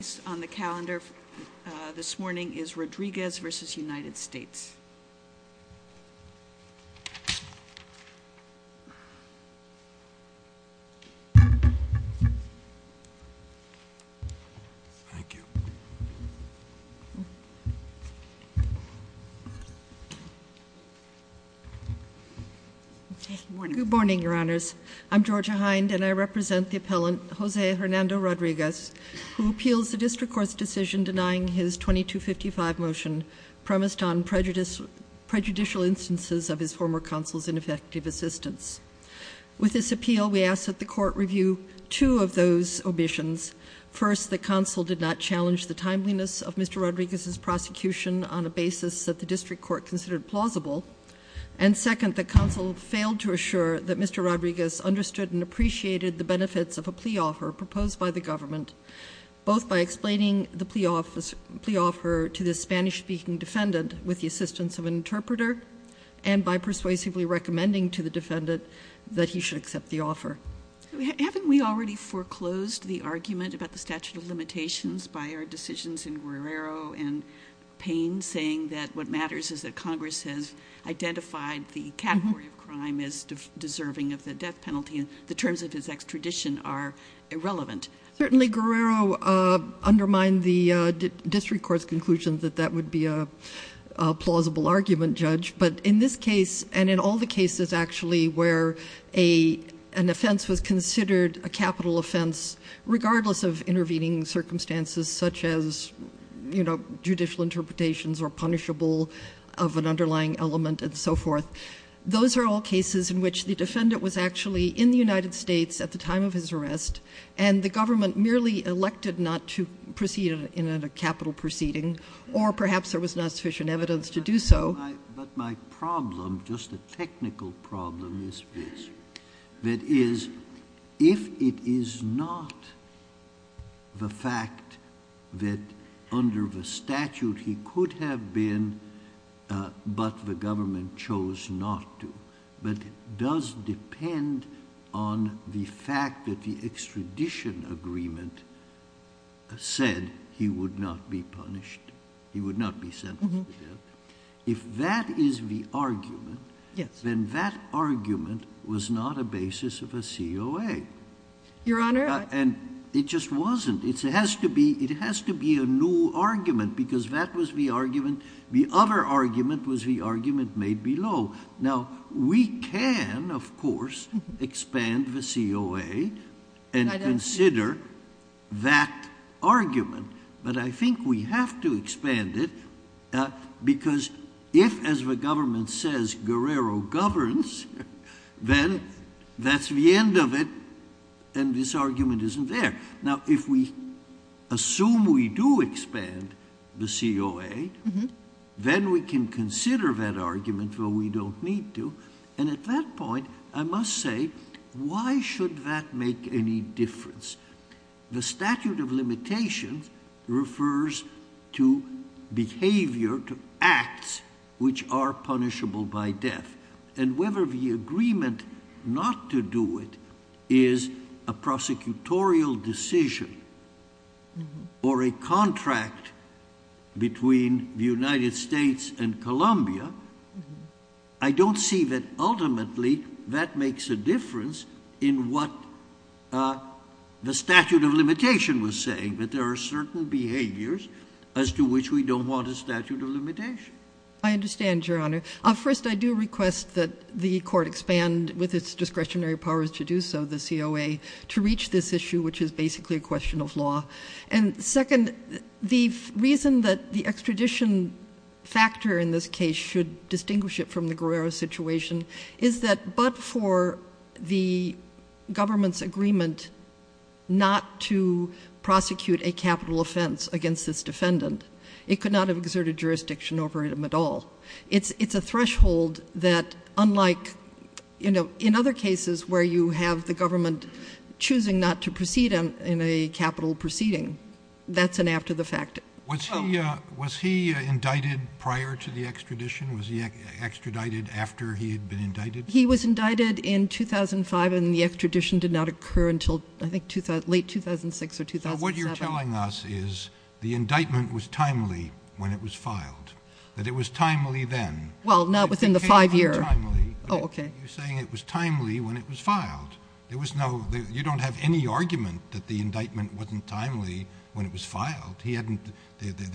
Thank you. Good morning, Your Honors. I'm Georgia Hind, and I represent the appellant, Jose Hernando Rodriguez, who appeals the District Court's decision denying his 2255 motion, premised on prejudicial instances of his former counsel's ineffective assistance. With this appeal, we ask that the court review two of those omissions. First, the counsel did not challenge the timeliness of Mr. Rodriguez's prosecution on a basis that the District Court considered plausible. And second, the counsel failed to assure that Mr. Rodriguez understood and appreciated the benefits of a plea offer proposed by the government, both by explaining the plea offer to the Spanish-speaking defendant with the assistance of an interpreter, and by persuasively recommending to the defendant that he should accept the offer. Haven't we already foreclosed the argument about the statute of limitations by our decisions in Guerrero and Payne, saying that what matters is that Congress has identified the category of crime as deserving of the death penalty, and the terms of his extradition are irrelevant? Certainly, Guerrero undermined the District Court's conclusion that that would be a plausible argument, Judge. But in this case, and in all the cases, actually, where an offense was considered a capital offense, regardless of intervening circumstances such as, you know, judicial interpretations or punishable of an underlying element and so forth, those are all cases in which the defendant was actually in the United States at the time of his arrest, and the government merely elected not to proceed in a capital proceeding, or perhaps there was not sufficient evidence to do so. But my problem, just a technical problem, is this. That is, if it is not the fact that under the statute he could have been, but the government chose not to, but does depend on the fact that the extradition agreement said he would not be punished, he would not be sentenced to death, if that is the argument, then that argument was not a basis of a COA. Your Honor? And it just wasn't. It has to be a new argument, because that was the argument. The other argument was the argument made below. Now, we can, of course, expand the COA and consider that argument, but I think we have to expand it, because if, as the government says, Guerrero governs, then that's the end of it, and this argument isn't there. Now, if we assume we do expand the COA, then we can consider that argument, though we don't need to, and at that point I must say, why should that make any difference? The statute of limitations refers to behavior, to acts which are punishable by death, and whether the agreement not to do it is a prosecutorial decision or a contract between the United States and Colombia, I don't see that ultimately that makes a difference in what the statute of limitation was saying, that there are certain behaviors as to which we don't want a statute of limitation. I understand, Your Honor. First, I do request that the Court expand, with its discretionary powers to do so, the COA, to reach this issue, which is basically a question of law. And second, the reason that the extradition factor in this case should distinguish it from the Guerrero situation is that but for the government's agreement not to prosecute a capital offense against this defendant, it could not have exerted jurisdiction over him at all. It's a threshold that, unlike in other cases where you have the government choosing not to proceed in a capital proceeding, that's an after the fact. Was he indicted prior to the extradition? Was he extradited after he had been indicted? He was indicted in 2005, and the extradition did not occur until, I think, late 2006 or 2007. So what you're telling us is the indictment was timely when it was filed, that it was timely then. Well, not within the five year. You're saying it was timely when it was filed. You don't have any argument that the indictment wasn't timely when it was filed. There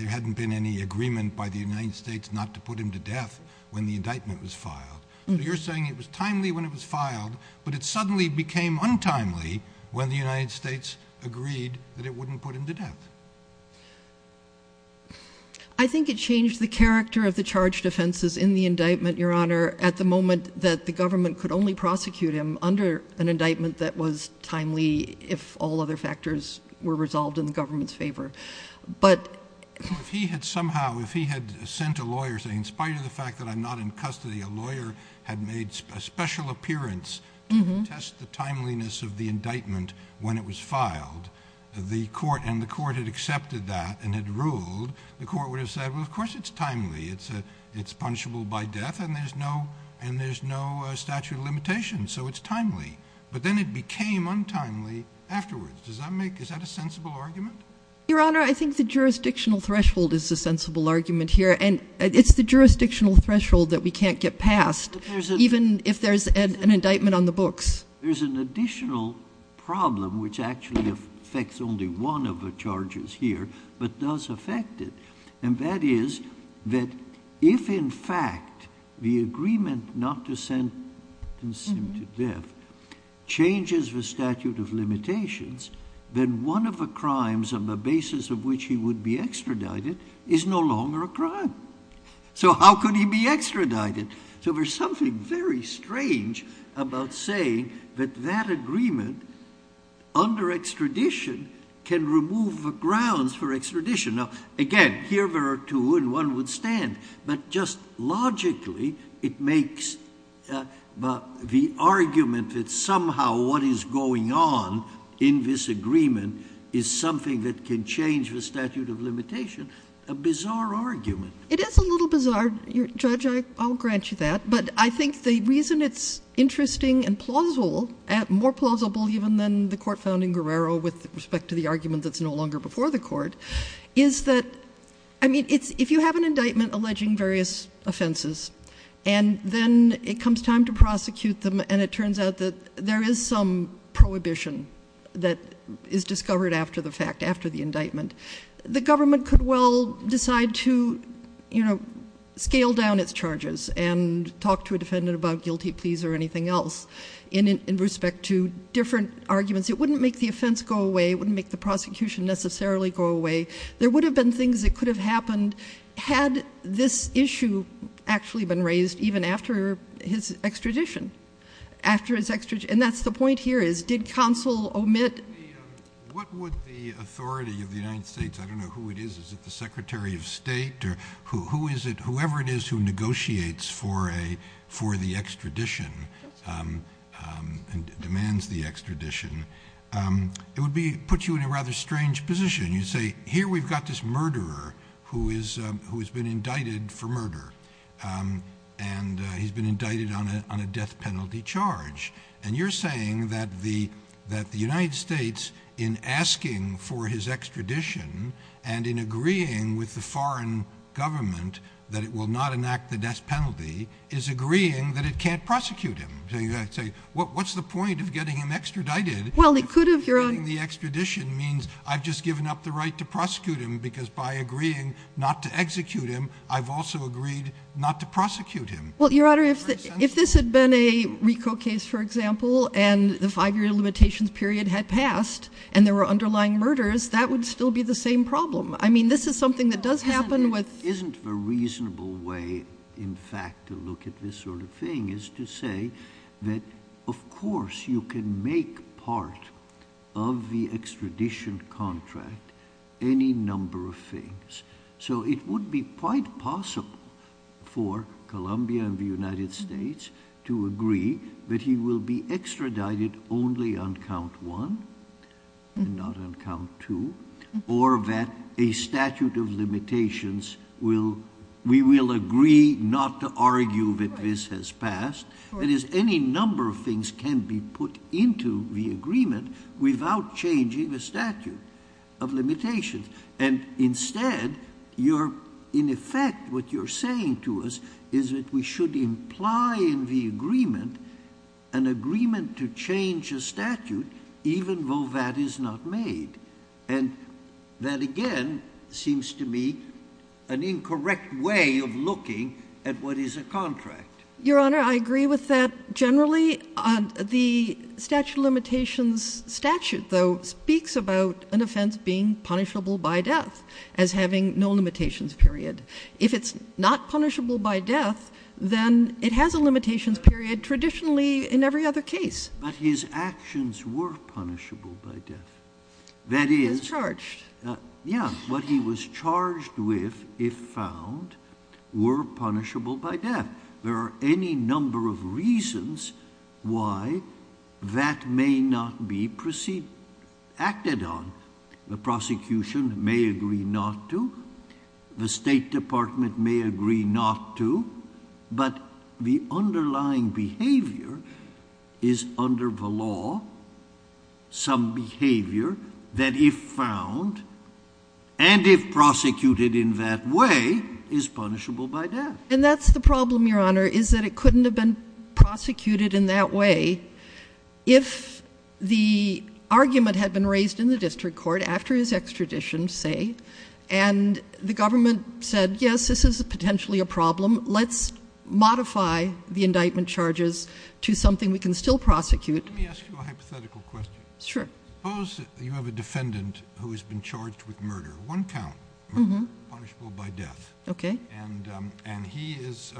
hadn't been any agreement by the United States not to put him to death when the indictment was filed. So you're saying it was timely when it was filed, but it suddenly became untimely when the United States agreed that it wouldn't put him to death. I think it changed the character of the charged offenses in the indictment, Your Honor, at the moment that the government could only prosecute him under an indictment that was timely if all other factors were resolved in the government's favor. If he had sent a lawyer saying, in spite of the fact that I'm not in custody, a lawyer had made a special appearance to test the timeliness of the indictment when it was filed, and the court had accepted that and had ruled, the court would have said, well, of course it's timely. It's punishable by death, and there's no statute of limitations, so it's timely. But then it became untimely afterwards. Is that a sensible argument? Your Honor, I think the jurisdictional threshold is a sensible argument here, and it's the jurisdictional threshold that we can't get past, even if there's an indictment on the books. There's an additional problem which actually affects only one of the charges here, but does affect it. And that is that if, in fact, the agreement not to sentence him to death changes the statute of limitations, then one of the crimes on the basis of which he would be extradited is no longer a crime. So how could he be extradited? So there's something very strange about saying that that agreement under extradition can remove the grounds for extradition. Now, again, here there are two, and one would stand. But just logically, it makes the argument that somehow what is going on in this agreement is something that can change the statute of limitation a bizarre argument. It is a little bizarre, Judge. I'll grant you that. But I think the reason it's interesting and plausible, more plausible even than the court found in Guerrero with respect to the argument that's no longer before the court, is that, I mean, if you have an indictment alleging various offenses and then it comes time to prosecute them and it turns out that there is some prohibition that is discovered after the fact, after the indictment, the government could well decide to scale down its charges and talk to a defendant about guilty pleas or anything else. In respect to different arguments, it wouldn't make the offense go away. It wouldn't make the prosecution necessarily go away. There would have been things that could have happened had this issue actually been raised even after his extradition. And that's the point here is did counsel omit? What would the authority of the United States, I don't know who it is, is it the Secretary of State? Whoever it is who negotiates for the extradition and demands the extradition, it would put you in a rather strange position. You'd say, here we've got this murderer who has been indicted for murder, and he's been indicted on a death penalty charge. And you're saying that the United States, in asking for his extradition and in agreeing with the foreign government that it will not enact the death penalty, is agreeing that it can't prosecute him. What's the point of getting him extradited? Getting the extradition means I've just given up the right to prosecute him because by agreeing not to execute him, I've also agreed not to prosecute him. Well, Your Honor, if this had been a RICO case, for example, and the five-year limitations period had passed, and there were underlying murders, that would still be the same problem. I mean, this is something that does happen with... Isn't the reasonable way, in fact, to look at this sort of thing is to say that, of course, you can make part of the extradition contract any number of things. So it would be quite possible for Colombia and the United States to agree that he will be extradited only on count one and not on count two, or that a statute of limitations will... We will agree not to argue that this has passed. That is, any number of things can be put into the agreement without changing the statute of limitations. And instead, in effect, what you're saying to us is that we should imply in the agreement an agreement to change a statute, even though that is not made. And that, again, seems to me an incorrect way of looking at what is a contract. Your Honor, I agree with that generally. The statute of limitations statute, though, speaks about an offense being punishable by death as having no limitations period. If it's not punishable by death, then it has a limitations period traditionally in every other case. But his actions were punishable by death. That is... He was charged. Yeah. What he was charged with, if found, were punishable by death. There are any number of reasons why that may not be acted on. The prosecution may agree not to. The State Department may agree not to. But the underlying behavior is, under the law, some behavior that, if found, and if prosecuted in that way, is punishable by death. And that's the problem, Your Honor, is that it couldn't have been prosecuted in that way if the argument had been raised in the district court, after his extradition, say, and the government said, yes, this is potentially a problem. Let's modify the indictment charges to something we can still prosecute. Let me ask you a hypothetical question. Sure. Suppose you have a defendant who has been charged with murder, one count, punishable by death. Okay. And he has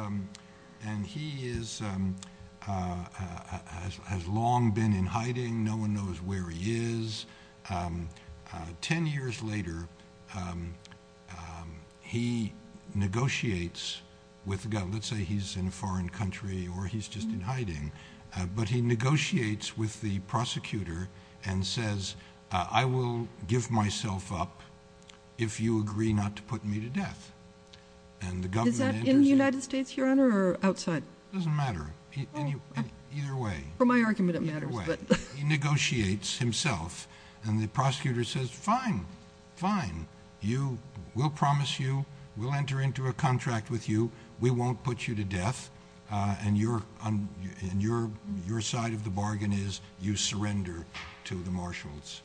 long been in hiding. No one knows where he is. Ten years later, he negotiates with the government. Let's say he's in a foreign country or he's just in hiding. But he negotiates with the prosecutor and says, I will give myself up if you agree not to put me to death. Is that in the United States, Your Honor, or outside? It doesn't matter. Either way. For my argument, it matters. He negotiates himself, and the prosecutor says, fine, fine. We'll promise you. We'll enter into a contract with you. We won't put you to death. And your side of the bargain is you surrender to the marshals.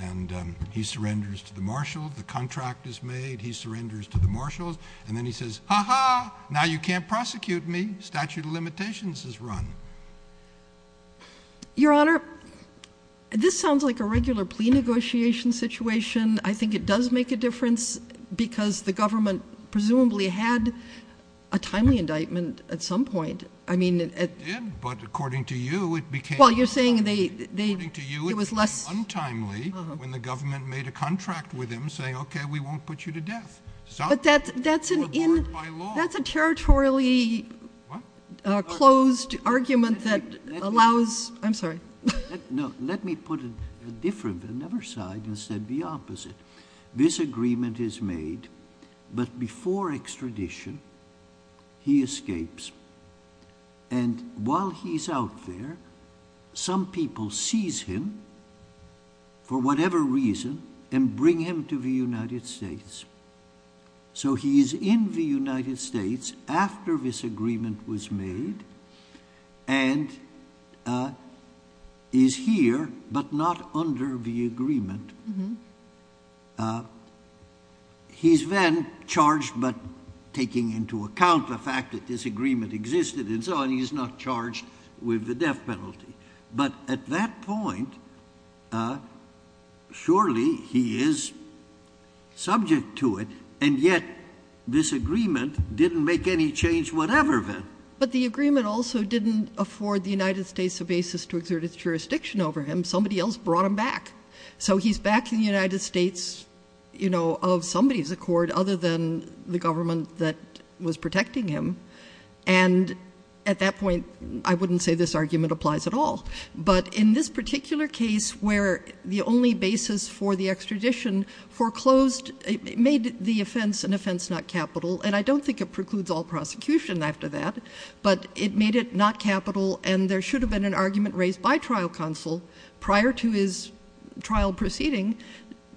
And he surrenders to the marshals. The contract is made. He surrenders to the marshals. And then he says, ha-ha, now you can't prosecute me. Statute of limitations is run. Your Honor, this sounds like a regular plea negotiation situation. I think it does make a difference because the government presumably had a timely indictment at some point. It did. But according to you, it became untimely. Well, you're saying it was less. According to you, it became untimely when the government made a contract with him saying, okay, we won't put you to death. But that's a territorially closed argument that allows. I'm sorry. No, let me put it a different, another side, instead the opposite. This agreement is made. But before extradition, he escapes. And while he's out there, some people seize him for whatever reason and bring him to the United States. So he is in the United States after this agreement was made. And is here but not under the agreement. He's then charged but taking into account the fact that this agreement existed and so on. He's not charged with the death penalty. But at that point, surely he is subject to it. And yet this agreement didn't make any change whatever then. But the agreement also didn't afford the United States a basis to exert its jurisdiction over him. Somebody else brought him back. So he's back in the United States, you know, of somebody's accord other than the government that was protecting him. And at that point, I wouldn't say this argument applies at all. But in this particular case where the only basis for the extradition foreclosed, it made the offense an offense not capital. And I don't think it precludes all prosecution after that. But it made it not capital. And there should have been an argument raised by trial counsel prior to his trial proceeding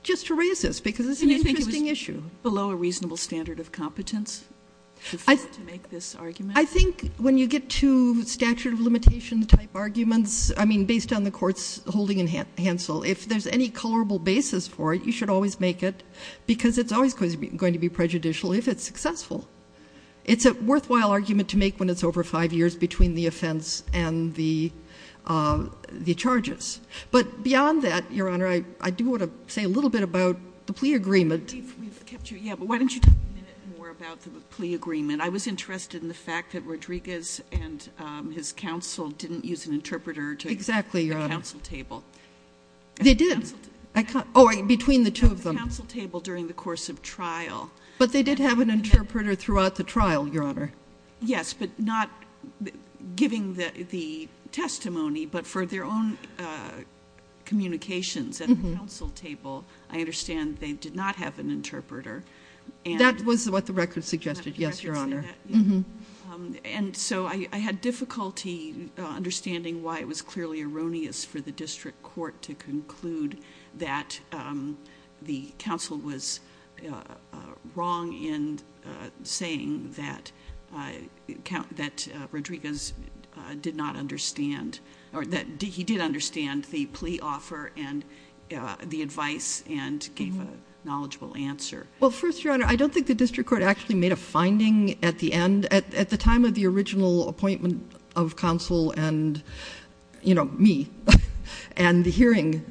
just to raise this. Because it's an interesting issue. And you think it was below a reasonable standard of competence to make this argument? I think when you get to statute of limitation type arguments, I mean, based on the court's holding in Hansel, if there's any colorable basis for it, you should always make it. Because it's always going to be prejudicial if it's successful. It's a worthwhile argument to make when it's over five years between the offense and the charges. But beyond that, Your Honor, I do want to say a little bit about the plea agreement. We've kept you. Yeah, but why don't you talk a minute more about the plea agreement? I was interested in the fact that Rodriguez and his counsel didn't use an interpreter to the counsel table. Exactly, Your Honor. They did. Oh, between the two of them. At the counsel table during the course of trial. But they did have an interpreter throughout the trial, Your Honor. Yes, but not giving the testimony, but for their own communications at the counsel table. I understand they did not have an interpreter. That was what the record suggested. Yes, Your Honor. And so I had difficulty understanding why it was clearly erroneous for the district court to conclude that the counsel was wrong in saying that Rodriguez did not understand or that he did understand the plea offer and the advice and gave a knowledgeable answer. Well, first, Your Honor, I don't think the district court actually made a finding at the end, at the time of the original appointment of counsel and, you know, me. And the hearing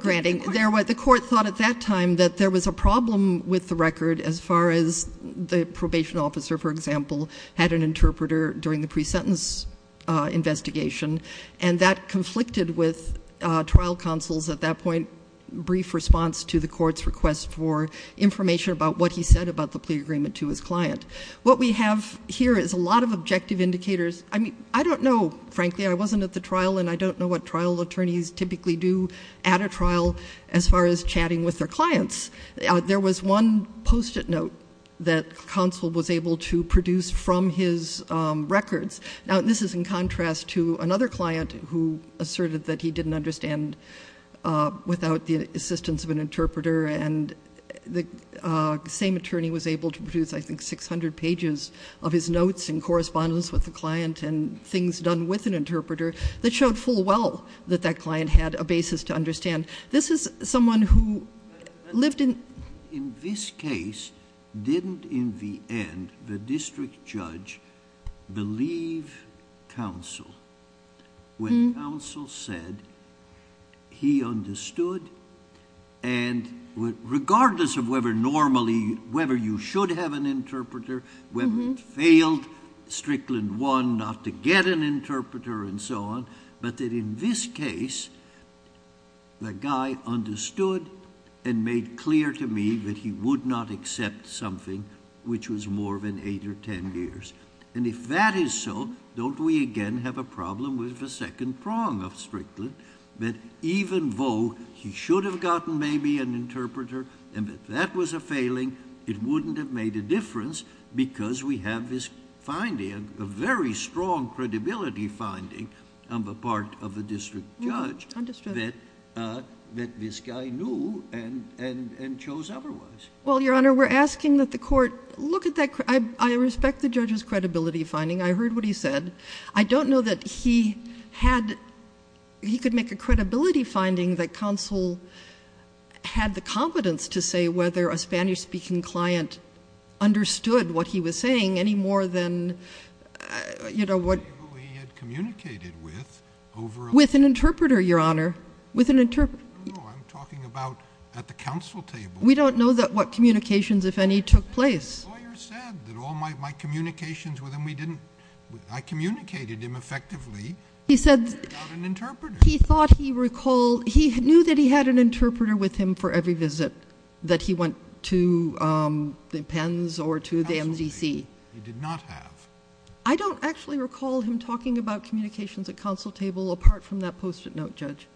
granting. The court thought at that time that there was a problem with the record as far as the probation officer, for example, had an interpreter during the pre-sentence investigation, and that conflicted with trial counsel's, at that point, brief response to the court's request for information about what he said about the plea agreement to his client. What we have here is a lot of objective indicators. I mean, I don't know, frankly, I wasn't at the trial, and I don't know what trial attorneys typically do at a trial as far as chatting with their clients. There was one Post-it note that counsel was able to produce from his records. Now, this is in contrast to another client who asserted that he didn't understand without the assistance of an interpreter, and the same attorney was able to produce, I think, 600 pages of his notes in correspondence with the client and things done with an interpreter that showed full well that that client had a basis to understand. This is someone who lived in... In this case, didn't, in the end, the district judge believe counsel when counsel said he understood and regardless of whether normally, whether you should have an interpreter, whether it failed, Strickland won not to get an interpreter and so on, but that in this case, the guy understood and made clear to me that he would not accept something which was more than 8 or 10 years, and if that is so, don't we again have a problem with the second prong of Strickland that even though he should have gotten maybe an interpreter and that that was a failing, it wouldn't have made a difference because we have this finding, a very strong credibility finding on the part of the district judge that this guy knew and chose otherwise. Well, Your Honor, we're asking that the court look at that... I respect the judge's credibility finding. I heard what he said. I don't know that he had, he could make a credibility finding that counsel had the competence to say whether a Spanish-speaking client understood what he was saying any more than, you know, what... He had communicated with over... With an interpreter, Your Honor, with an interpreter. I'm talking about at the counsel table. We don't know that what communications, if any, took place. The lawyer said that all my communications with him, we didn't, I communicated him effectively without an interpreter. He said he thought he recalled, he knew that he had an interpreter with him for every visit, that he went to the Penns or to the MDC. Absolutely, he did not have. I don't actually recall him talking about communications at counsel table apart from that post-it note, Judge.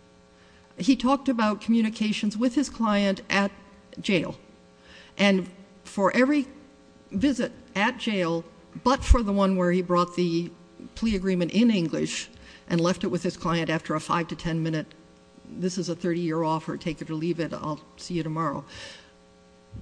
He talked about communications with his client at jail. And for every visit at jail, but for the one where he brought the plea agreement in English and left it with his client after a five to ten minute, this is a 30-year offer, take it or leave it, I'll see you tomorrow.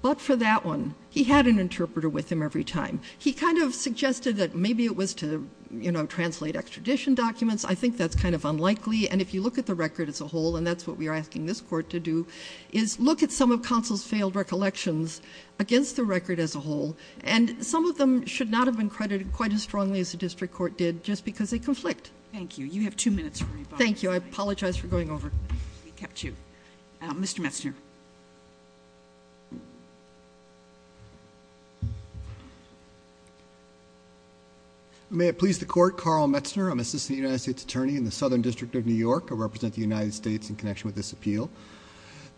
But for that one, he had an interpreter with him every time. He kind of suggested that maybe it was to, you know, translate extradition documents. I think that's kind of unlikely. And if you look at the record as a whole, and that's what we are asking this Court to do, is look at some of counsel's failed recollections against the record as a whole. And some of them should not have been credited quite as strongly as the district court did just because they conflict. Thank you. You have two minutes for rebuttal. Thank you. I apologize for going over. We kept you. Mr. Metzner. May it please the Court. Carl Metzner. I'm Assistant United States Attorney in the Southern District of New York. I represent the United States in connection with this appeal.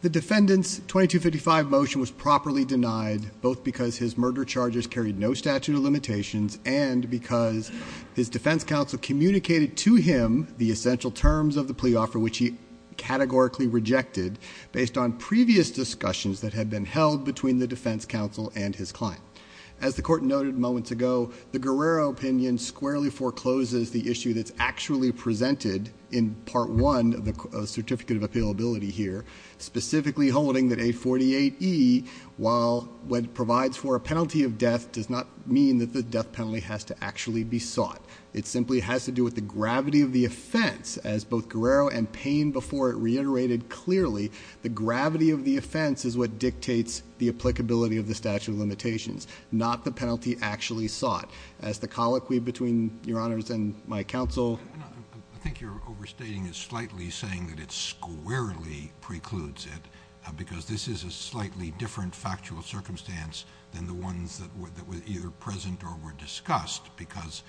The defendant's 2255 motion was properly denied, both because his murder charges carried no statute of limitations and because his defense counsel communicated to him the essential terms of the plea offer, which he categorically rejected based on previous discussions that had been held between the defense counsel and his client. As the Court noted moments ago, the Guerrero opinion squarely forecloses the issue that's actually presented in Part 1 of the Certificate of Appealability here, specifically holding that 848E, while it provides for a penalty of death, does not mean that the death penalty has to actually be sought. It simply has to do with the gravity of the offense. As both Guerrero and Payne before it reiterated clearly, the gravity of the offense is what dictates the applicability of the statute of limitations, not the penalty actually sought. As the colloquy between Your Honors and my counsel... I think your overstating is slightly saying that it squarely precludes it because this is a slightly different factual circumstance than the ones that were either present or were discussed because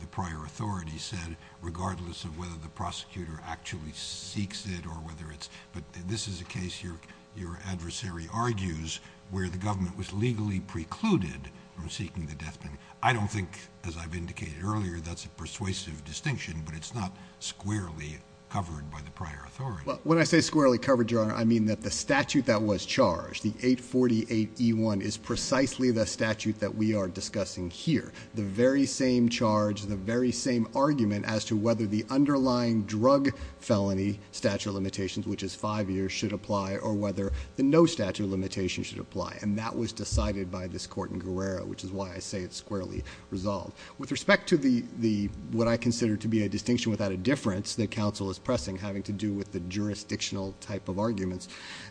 the prior authority said, regardless of whether the prosecutor actually seeks it or whether it's... But this is a case your adversary argues where the government was legally precluded from seeking the death penalty. I don't think, as I've indicated earlier, that's a persuasive distinction, but it's not squarely covered by the prior authority. When I say squarely covered, Your Honor, I mean that the statute that was charged, the 848E1, is precisely the statute that we are discussing here. The very same charge, the very same argument as to whether the underlying drug felony statute of limitations, which is five years, should apply or whether the no statute of limitations should apply. And that was decided by this Court in Guerrero, which is why I say it's squarely resolved. With respect to what I consider to be a distinction without a difference that counsel is pressing, having to do with the jurisdictional type of arguments,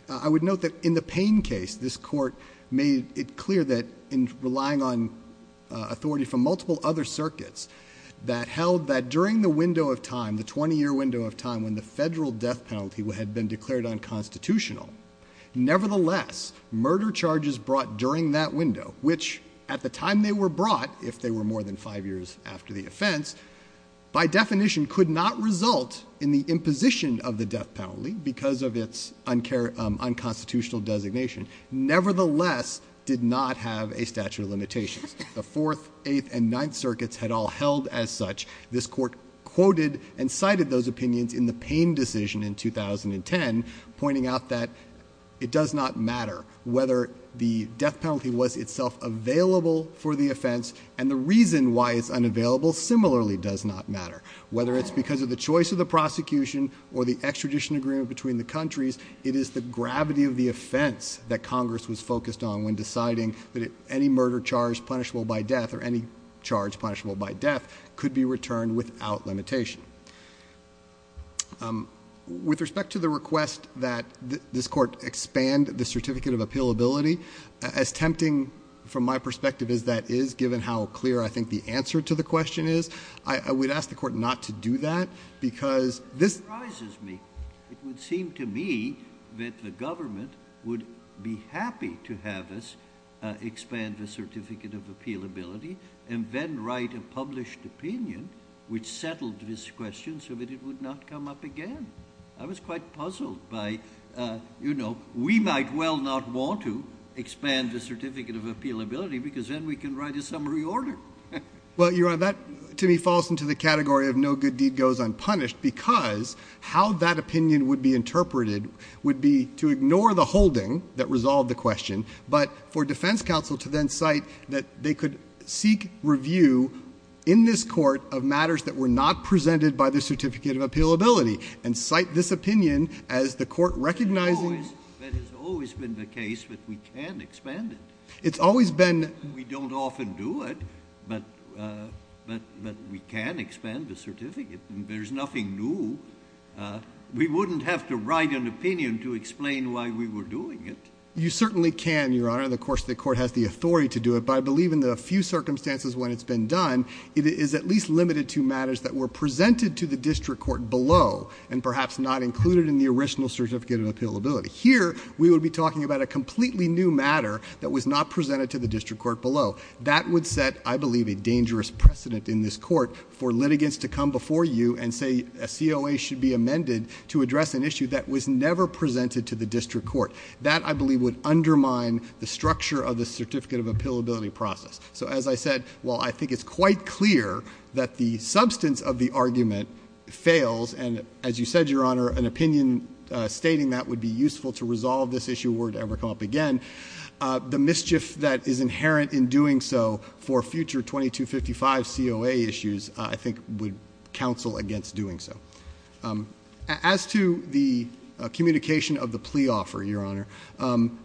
I would note that in the Payne case, this Court made it clear that in relying on authority from multiple other circuits that held that during the window of time, the 20-year window of time when the federal death penalty had been declared unconstitutional, nevertheless, murder charges brought during that window, which at the time they were brought, if they were more than five years after the offense, by definition could not result in the imposition of the death penalty because of its unconstitutional designation, nevertheless, did not have a statute of limitations. The 4th, 8th, and 9th circuits had all held as such. This Court quoted and cited those opinions in the Payne decision in 2010, pointing out that it does not matter whether the death penalty was itself available for the offense and the reason why it's unavailable similarly does not matter. Whether it's because of the choice of the prosecution or the extradition agreement between the countries, it is the gravity of the offense that Congress was focused on when deciding that any murder charge punishable by death or any charge punishable by death could be returned without limitation. With respect to the request that this Court expand the certificate of appealability, as tempting from my perspective as that is given how clear I think the answer to the question is, I would ask the Court not to do that because this... It surprises me. It would seem to me that the government would be happy to have us expand the certificate of appealability and then write a published opinion which settled this question so that it would not come up again. I was quite puzzled by, you know, we might well not want to expand the certificate of appealability because then we can write a summary order. Well, Your Honor, that to me falls into the category of no good deed goes unpunished because how that opinion would be interpreted would be to ignore the holding that resolved the question but for defense counsel to then cite that they could seek review in this Court of matters that were not presented by the certificate of appealability and cite this opinion as the Court recognizing... That has always been the case that we can expand it. It's always been... We don't often do it but we can expand the certificate. There's nothing new. We wouldn't have to write an opinion to explain why we were doing it. You certainly can, Your Honor, and of course the Court has the authority to do it but I believe in the few circumstances when it's been done, it is at least limited to matters that were presented to the district court below and perhaps not included in the original certificate of appealability. Here, we would be talking about a completely new matter that was not presented to the district court below. That would set, I believe, a dangerous precedent in this court for litigants to come before you and say a COA should be amended to address an issue that was never presented to the district court. That, I believe, would undermine the structure of the certificate of appealability process. So as I said, while I think it's quite clear that the substance of the argument fails and as you said, Your Honor, an opinion stating that would be useful to resolve this issue were to ever come up again, the mischief that is inherent in doing so for future 2255 COA issues, I think, would counsel against doing so. As to the communication of the plea offer, Your Honor,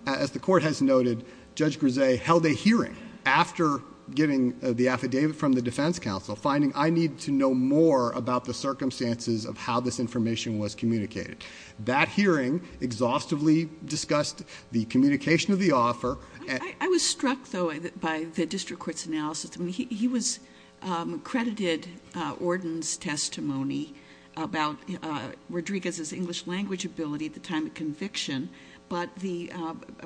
as the Court has noted, Judge Grezze held a hearing after getting the affidavit from the defense counsel finding I need to know more about the circumstances of how this information was communicated. That hearing exhaustively discussed the communication of the offer. I was struck, though, by the district court's analysis. I mean, he credited Ordon's testimony about Rodriguez's English language ability at the time of conviction, but the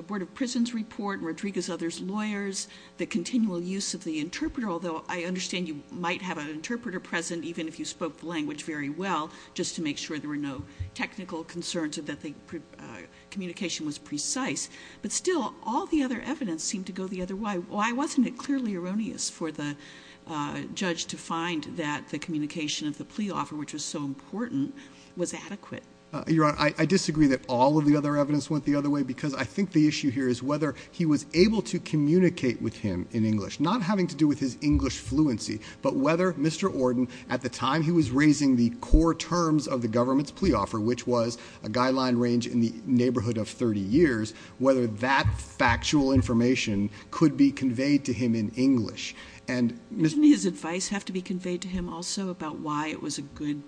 Board of Prisons report, Rodriguez's other lawyers, the continual use of the interpreter, although I understand you might have an interpreter present even if you spoke the language very well, just to make sure there were no technical concerns or that the communication was precise. But still, all the other evidence seemed to go the other way. Why wasn't it clearly erroneous for the judge to find that the communication of the plea offer, which was so important, was adequate? Your Honor, I disagree that all of the other evidence went the other way because I think the issue here is whether he was able to communicate with him in English, not having to do with his English fluency, but whether Mr. Ordon, at the time he was raising the core terms of the government's plea offer, which was a guideline range in the neighborhood of 30 years, whether that factual information could be conveyed to him in English. Didn't his advice have to be conveyed to him also about why it was a good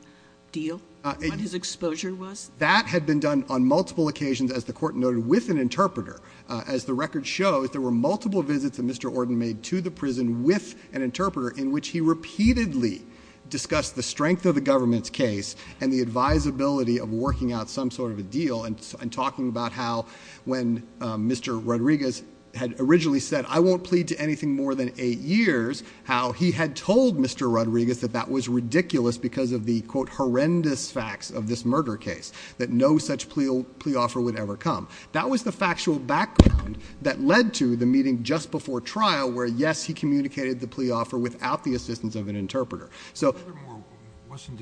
deal, what his exposure was? That had been done on multiple occasions, as the court noted, with an interpreter. As the record shows, there were multiple visits that Mr. Ordon made to the prison with an interpreter in which he repeatedly discussed the strength of the government's case and the advisability of working out some sort of a deal and talking about how when Mr. Rodriguez had originally said, I won't plead to anything more than eight years, how he had told Mr. Rodriguez that that was ridiculous because of the, quote, horrendous facts of this murder case, that no such plea offer would ever come. That was the factual background that led to the meeting just before trial where, yes, he communicated the plea offer without the assistance of an interpreter. So— Furthermore, wasn't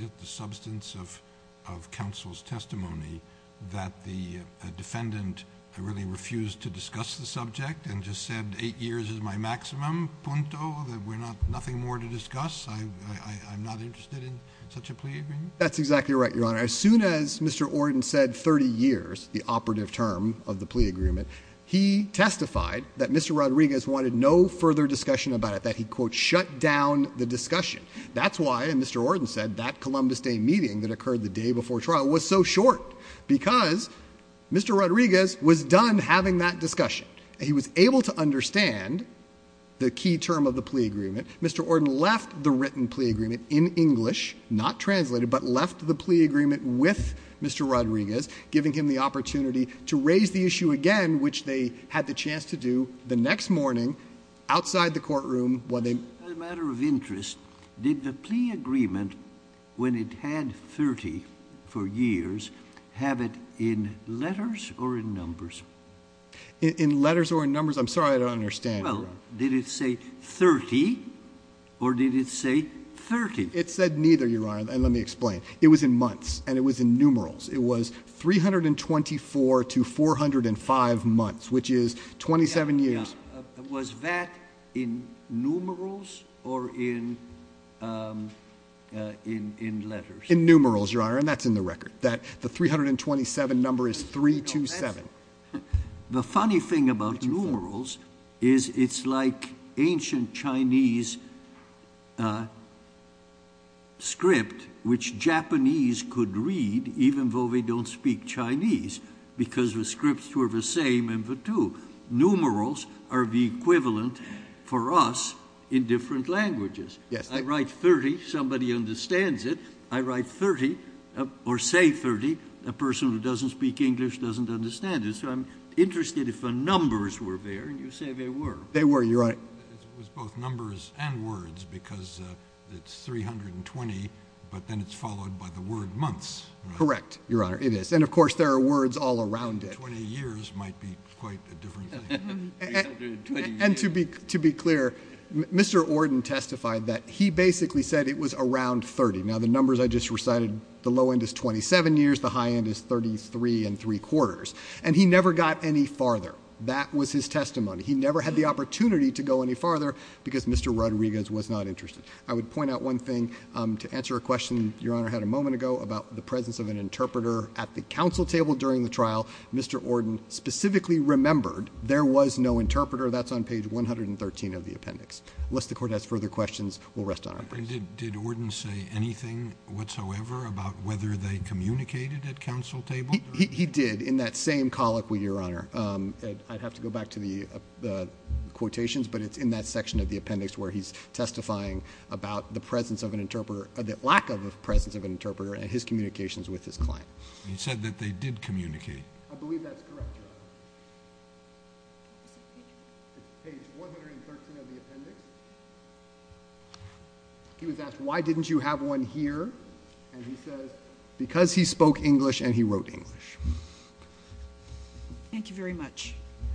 it the substance of counsel's testimony that the defendant really refused to discuss the subject and just said eight years is my maximum, punto, that we're nothing more to discuss? I'm not interested in such a plea agreement? That's exactly right, Your Honor. As soon as Mr. Ordon said 30 years, the operative term of the plea agreement, he testified that Mr. Rodriguez wanted no further discussion about it, that he, quote, shut down the discussion. That's why, as Mr. Ordon said, that Columbus Day meeting that occurred the day before trial was so short because Mr. Rodriguez was done having that discussion. He was able to understand the key term of the plea agreement. Mr. Ordon left the written plea agreement in English, not translated, but left the plea agreement with Mr. Rodriguez, giving him the opportunity to raise the issue again, which they had the chance to do the next morning outside the courtroom while they— As a matter of interest, did the plea agreement, when it had 30 for years, have it in letters or in numbers? In letters or in numbers? I'm sorry, I don't understand, Your Honor. Well, did it say 30 or did it say 30? It said neither, Your Honor, and let me explain. It was in months and it was in numerals. It was 324 to 405 months, which is 27 years. Was that in numerals or in letters? In numerals, Your Honor, and that's in the record. The 327 number is 327. The funny thing about numerals is it's like ancient Chinese script, which Japanese could read even though they don't speak Chinese because the scripts were the same in the two. Numerals are the equivalent for us in different languages. I write 30, somebody understands it. I write 30 or say 30, a person who doesn't speak English doesn't understand it, so I'm interested if the numbers were there, and you say they were. They were, Your Honor. It was both numbers and words because it's 320, but then it's followed by the word months, right? Correct, Your Honor, it is, and, of course, there are words all around it. Twenty years might be quite a different thing. And to be clear, Mr. Ordon testified that he basically said it was around 30. Now, the numbers I just recited, the low end is 27 years, the high end is 33 and three-quarters, and he never got any farther. That was his testimony. He never had the opportunity to go any farther because Mr. Rodriguez was not interested. I would point out one thing to answer a question Your Honor had a moment ago about the presence of an interpreter at the counsel table during the trial. Mr. Ordon specifically remembered there was no interpreter. That's on page 113 of the appendix. Unless the Court has further questions, we'll rest on our feet. Did Ordon say anything whatsoever about whether they communicated at counsel table? He did in that same colloquy, Your Honor. I'd have to go back to the quotations, but it's in that section of the appendix where he's testifying about the presence of an interpreter, the lack of the presence of an interpreter and his communications with his client. He said that they did communicate. I believe that's correct, Your Honor. It's page 113 of the appendix. He was asked, Why didn't you have one here? And he says, Because he spoke English and he wrote English. Thank you very much.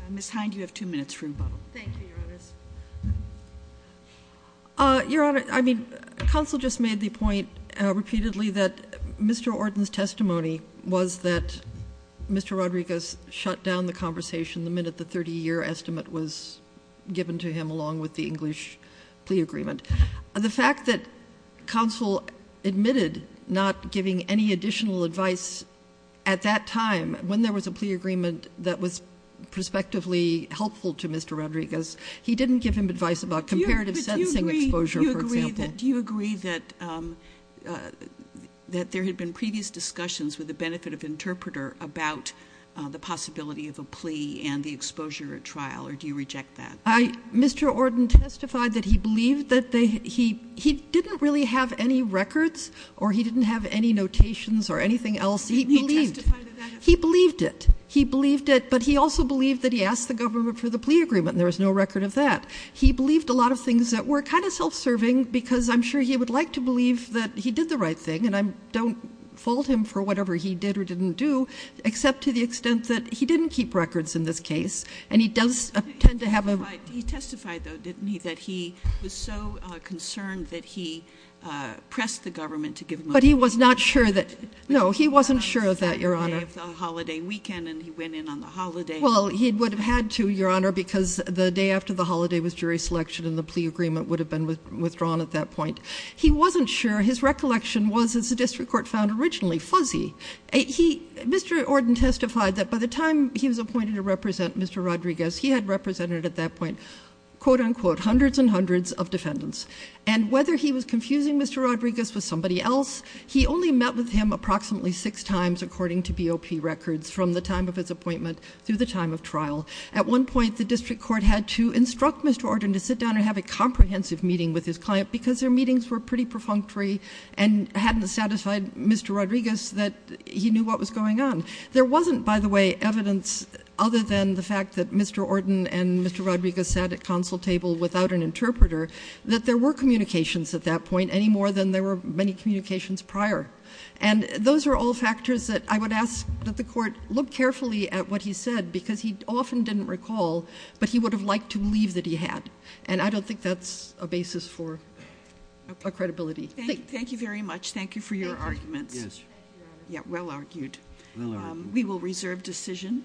Ms. Hind, you have two minutes for rebuttal. Thank you, Your Honor. Your Honor, I mean, counsel just made the point repeatedly that Mr. Ordon's testimony was that Mr. Rodriguez shut down the conversation the minute the 30-year estimate was given to him along with the English plea agreement. The fact that counsel admitted not giving any additional advice at that time, when there was a plea agreement that was prospectively helpful to Mr. Rodriguez, he didn't give him advice about comparative sentencing exposure, for example. Ms. Hind, do you agree that there had been previous discussions with the benefit of interpreter about the possibility of a plea and the exposure at trial, or do you reject that? Mr. Ordon testified that he believed that he didn't really have any records or he didn't have any notations or anything else. He believed it. He believed it, but he also believed that he asked the government for the plea agreement, and there was no record of that. He believed a lot of things that were kind of self-serving, because I'm sure he would like to believe that he did the right thing, and I don't fault him for whatever he did or didn't do, except to the extent that he didn't keep records in this case, and he does tend to have a ---- But he testified, though, didn't he, that he was so concerned that he pressed the government to give him a plea agreement. But he was not sure that ---- No, he wasn't sure of that, Your Honor. He testified on the day of the holiday weekend, and he went in on the holiday. Well, he would have had to, Your Honor, because the day after the holiday was jury selection and the plea agreement would have been withdrawn at that point. He wasn't sure. His recollection was, as the district court found originally, fuzzy. Mr. Ordon testified that by the time he was appointed to represent Mr. Rodriguez, he had represented at that point, quote, unquote, hundreds and hundreds of defendants. And whether he was confusing Mr. Rodriguez with somebody else, he only met with him approximately six times, according to BOP records, from the time of his appointment through the time of trial. At one point, the district court had to instruct Mr. Ordon to sit down and have a comprehensive meeting with his client because their meetings were pretty perfunctory and hadn't satisfied Mr. Rodriguez that he knew what was going on. There wasn't, by the way, evidence other than the fact that Mr. Ordon and Mr. Rodriguez sat at counsel table without an interpreter that there were communications at that point any more than there were many communications prior. And those are all factors that I would ask that the court look carefully at what he said because he often didn't recall, but he would have liked to believe that he had. And I don't think that's a basis for credibility. Thank you very much. Thank you for your arguments. Yes. Yeah, well argued. Well argued. We will reserve decision.